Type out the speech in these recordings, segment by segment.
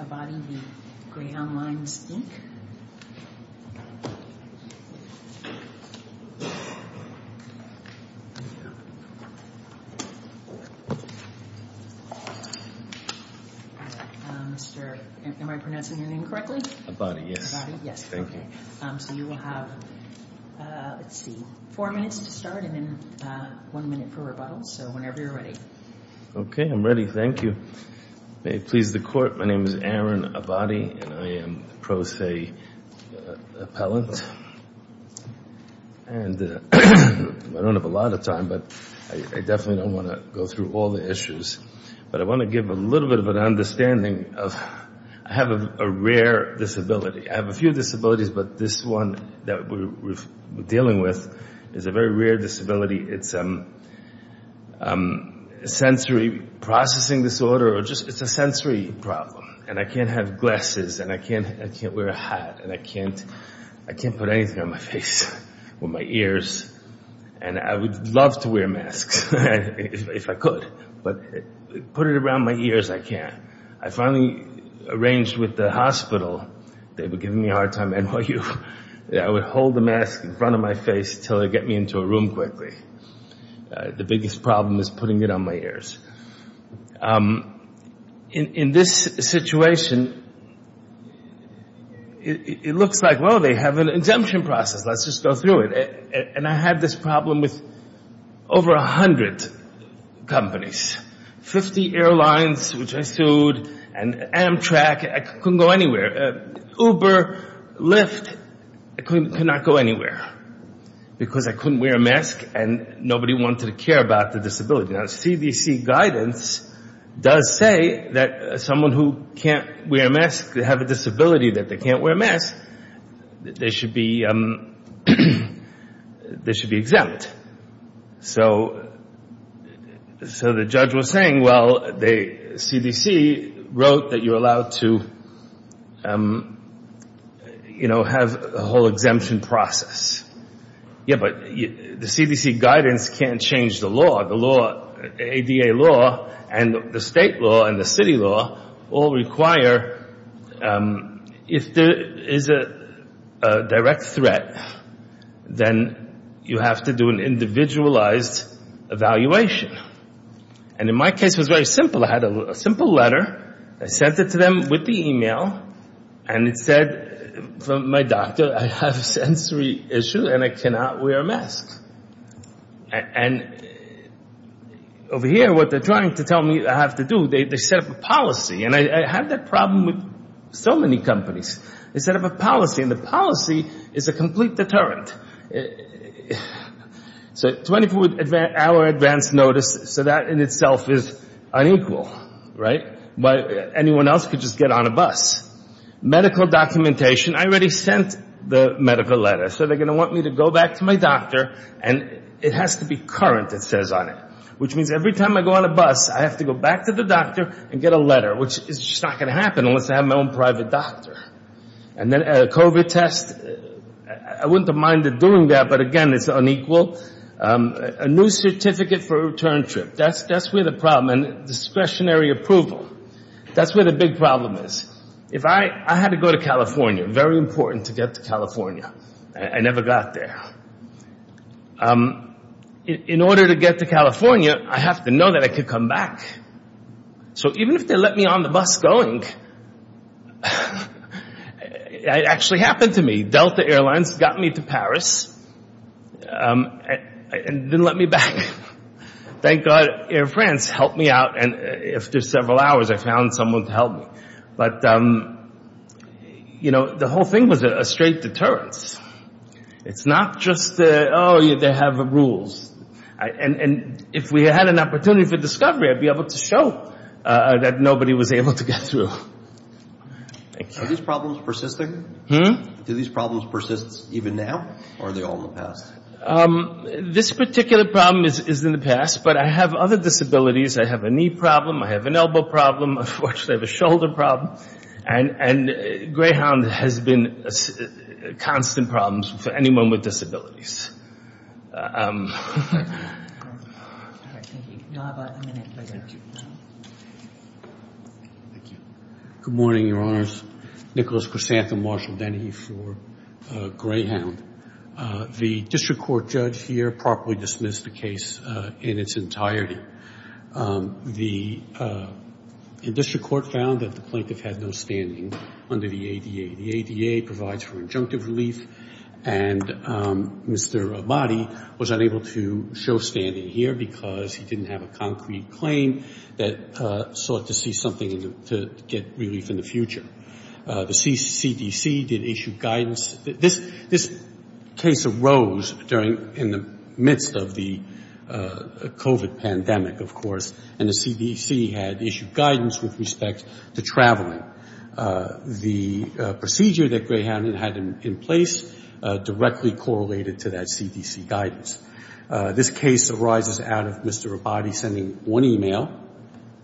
Mr. Abadi, am I pronouncing your name correctly? Abadi, yes. So you will have, let's see, four minutes to start and then one minute for rebuttals, so whenever you're ready. Okay, I'm ready. Thank you. May it please the Court, my name is Aaron Abadi and I am the pro se appellant. And I don't have a lot of time, but I definitely don't want to go through all the issues. But I want to give a little bit of an understanding. I have a rare disability. I have a few disabilities, but this one that we're dealing with is a very rare disability. It's a sensory processing disorder. It's a sensory problem and I can't have glasses and I can't wear a hat and I can't put anything on my face with my ears and I would love to wear masks if I could, but put it around my ears, I can't. I finally arranged with the hospital, they were giving me a hard time, NYU, I would hold the mask in front of my face until they'd get me into a room quickly. The biggest problem is putting it on my ears. In this situation, it looks like, well, they have an exemption process, let's just go through it. And I had this problem with over 100 companies. 50 airlines, which I sued, and Amtrak, I couldn't go anywhere. Uber, Lyft, I could not go anywhere because I couldn't wear a mask and nobody wanted to care about the disability. Now, CDC guidance does say that someone who can't wear a mask, they have a disability that they can't wear a mask, they should be exempt. So the judge was saying, well, CDC wrote that you're allowed to have a whole exemption process. Yeah, but the CDC guidance can't change the law. The ADA law and the state law and the city law all require, if there is a direct threat, then you have to do an individualized evaluation. And in my case it was very simple. I had a simple letter, I sent it to them with the e-mail, and it said from my doctor, I have a sensory issue and I cannot wear a mask. And over here, what they're trying to tell me I have to do, they set up a policy. And I had that problem with so many companies. They set up a policy. And the policy is a complete deterrent. So 24-hour advance notice, so that in itself is unequal, right? Anyone else could just get on a bus. Medical documentation, I already sent the medical letter. So they're going to want me to go back to my doctor, and it has to be current, it says on it. Which means every time I go on a bus, I have to go back to the doctor and get a letter, which is just not going to happen unless I have my own private doctor. And then a COVID test, I wouldn't have minded doing that, but again, it's unequal. A new certificate for a return trip, that's where the problem is. And discretionary approval, that's where the big problem is. I had to go to California. Very important to get to California. I never got there. In order to get to California, I have to know that I could come back. So even if they let me on the bus going, it actually happened to me. Delta Airlines got me to Paris and didn't let me back. Thank God Air France helped me out, and after several hours, I found someone to help me. But, you know, the whole thing was a straight deterrence. It's not just, oh, they have rules. And if we had an opportunity for discovery, I'd be able to show that nobody was able to get through. Are these problems persisting? Do these problems persist even now, or are they all in the past? This particular problem is in the past, but I have other disabilities. I have a knee problem. I have an elbow problem. Unfortunately, I have a shoulder problem. And Greyhound has been a constant problem for anyone with disabilities. Good morning, Your Honors. Nicholas Chrysanthem Marshall Denny for Greyhound. The district court judge here properly dismissed the case in its entirety. The district court found that the plaintiff had no standing under the ADA. The ADA provides for injunctive relief, and Mr. Abadi was unable to show standing here because he didn't have a concrete claim that sought to see something to get relief in the future. The CDC did issue guidance. This case arose in the midst of the COVID pandemic, of course, and the CDC had issued guidance with respect to traveling. The procedure that Greyhound had in place directly correlated to that CDC guidance. This case arises out of Mr. Abadi sending one email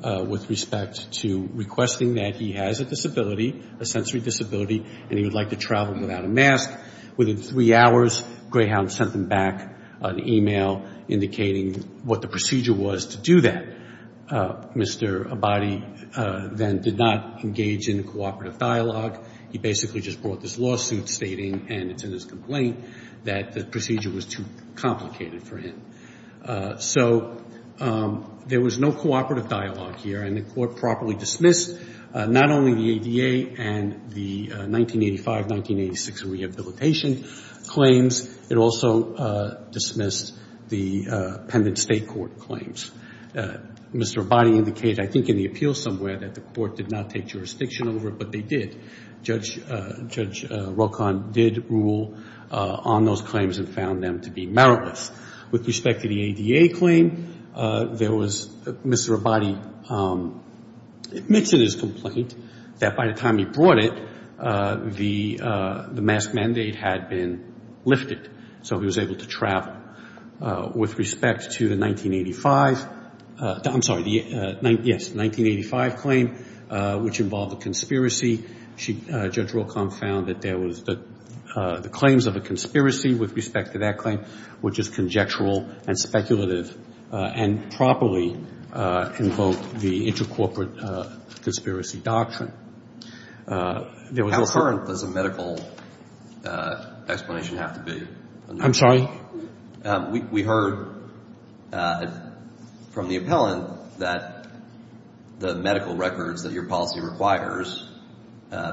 with respect to requesting that he has a disability, a sensory disability, and he would like to travel without a mask. Within three hours, Greyhound sent him back an email indicating what the procedure was to do that. Mr. Abadi then did not engage in a cooperative dialogue. He basically just brought this lawsuit stating, and it's in his complaint, that the procedure was too complicated for him. So there was no cooperative dialogue here, and the court properly dismissed not only the ADA and the 1985-1986 rehabilitation claims. It also dismissed the appended state court claims. Mr. Abadi indicated, I think in the appeal somewhere, that the court did not take jurisdiction over it, but they did. Judge Rocon did rule on those claims and found them to be meritless. With respect to the ADA claim, Mr. Abadi admits in his complaint that by the time he brought it, the mask mandate had been lifted, so he was able to travel. With respect to the 1985 claim, which involved a conspiracy, Judge Rocon found that the claims of a conspiracy with respect to that claim were just conjectural and speculative, and properly invoked the intercorporate conspiracy doctrine. How current does a medical explanation have to be? I'm sorry? We heard from the appellant that the medical records that your policy requires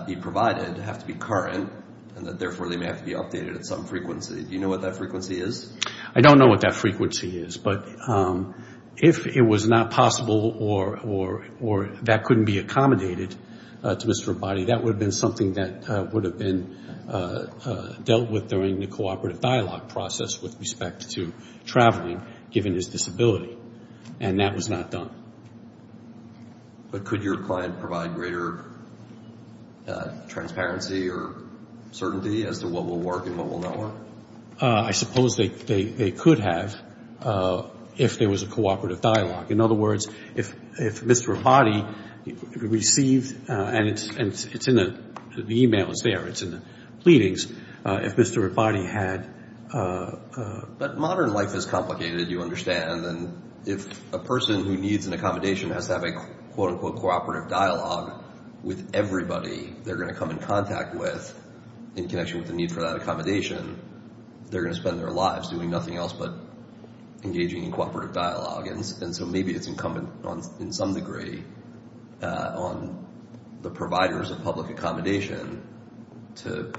be provided have to be current, and that therefore they may have to be updated at some frequency. Do you know what that frequency is? I don't know what that frequency is, but if it was not possible or that couldn't be accommodated to Mr. Abadi, that would have been dealt with during the cooperative dialogue process with respect to traveling, given his disability, and that was not done. But could your client provide greater transparency or certainty as to what will work and what will not work? I suppose they could have if there was a cooperative dialogue. In other words, if Mr. Abadi received, and the e-mail is there, it's in the pleadings, if Mr. Abadi had... But modern life is complicated, you understand, and if a person who needs an accommodation has to have a quote-unquote cooperative dialogue with everybody they're going to come in contact with in connection with the need for that accommodation, they're going to spend their lives doing nothing else but engaging in cooperative dialogue. And so maybe it's incumbent in some degree on the providers of public accommodation to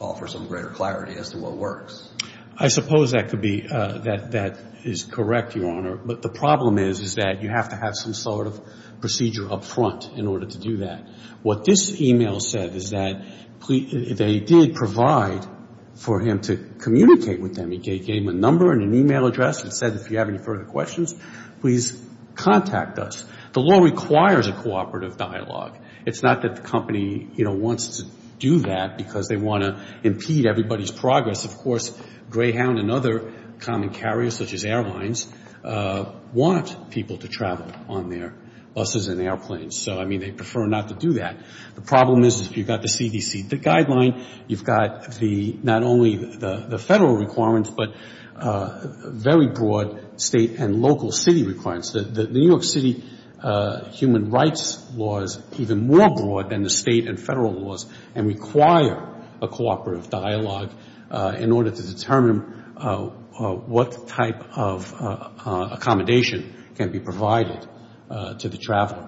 offer some greater clarity as to what works. I suppose that could be, that is correct, Your Honor, but the problem is that you have to have some sort of procedure up front in order to do that. What this e-mail said is that they did provide for him to communicate with them. He gave them a number and an e-mail address and said if you have any further questions, please contact us. The law requires a cooperative dialogue. It's not that the company, you know, wants to do that because they want to impede everybody's progress. Of course, Greyhound and other common carriers such as airlines want people to travel on their buses and airplanes. So, I mean, they prefer not to do that. The problem is if you've got the CDC guideline, you've got the, not only the federal requirements, but very broad state and local city requirements. The New York City human rights law is even more broad than the state and federal laws and require a cooperative dialogue in order to determine what type of accommodation can be provided to the traveler.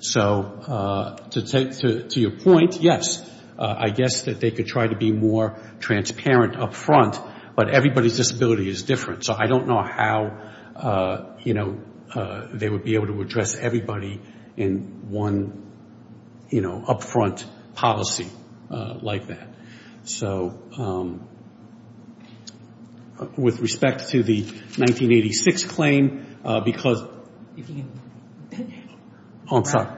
So, to your point, yes, I guess that they could try to be more transparent up front, but everybody's disability is different. So I don't know how, you know, they would be able to address everybody in one, you know, up front policy like that. So, with respect to the 1986 claim, because... Oh, I'm sorry.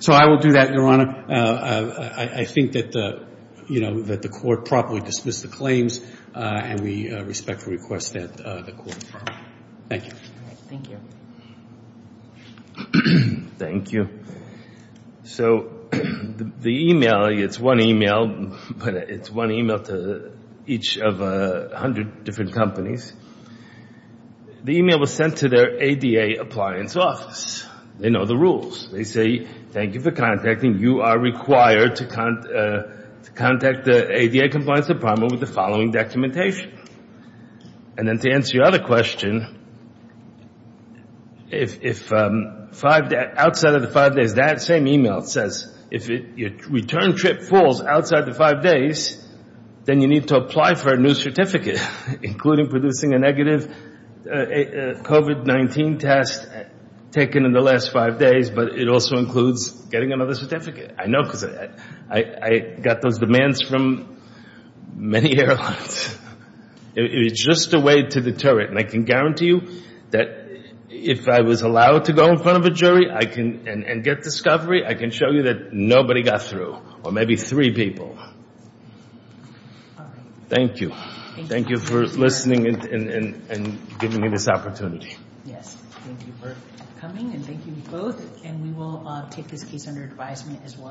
So I will do that, Your Honor. I think that, you know, that the court properly dismissed the claims and we respectfully request that the court follow. Thank you. Thank you. So the e-mail, it's one e-mail, but it's one e-mail to each of 100 different companies. The e-mail was sent to their ADA appliance office. They know the rules. They say, thank you for contacting. You are required to contact the ADA compliance department with the following documentation. And then to answer your other question, if outside of the five days, that same e-mail, it says, if your return trip falls outside the five days, then you need to apply for a new certificate, including producing a negative COVID-19 test taken in the last five days, but it also includes getting another certificate. I know because I got those demands from many airlines. It's just a way to deter it. And I can guarantee you that if I was allowed to go in front of a jury and get discovery, I can show you that nobody got through, or maybe three people. All right. Thank you. Thank you for listening and giving me this opportunity. Yes. Thank you for coming, and thank you both. And we will take this case under advisement as well.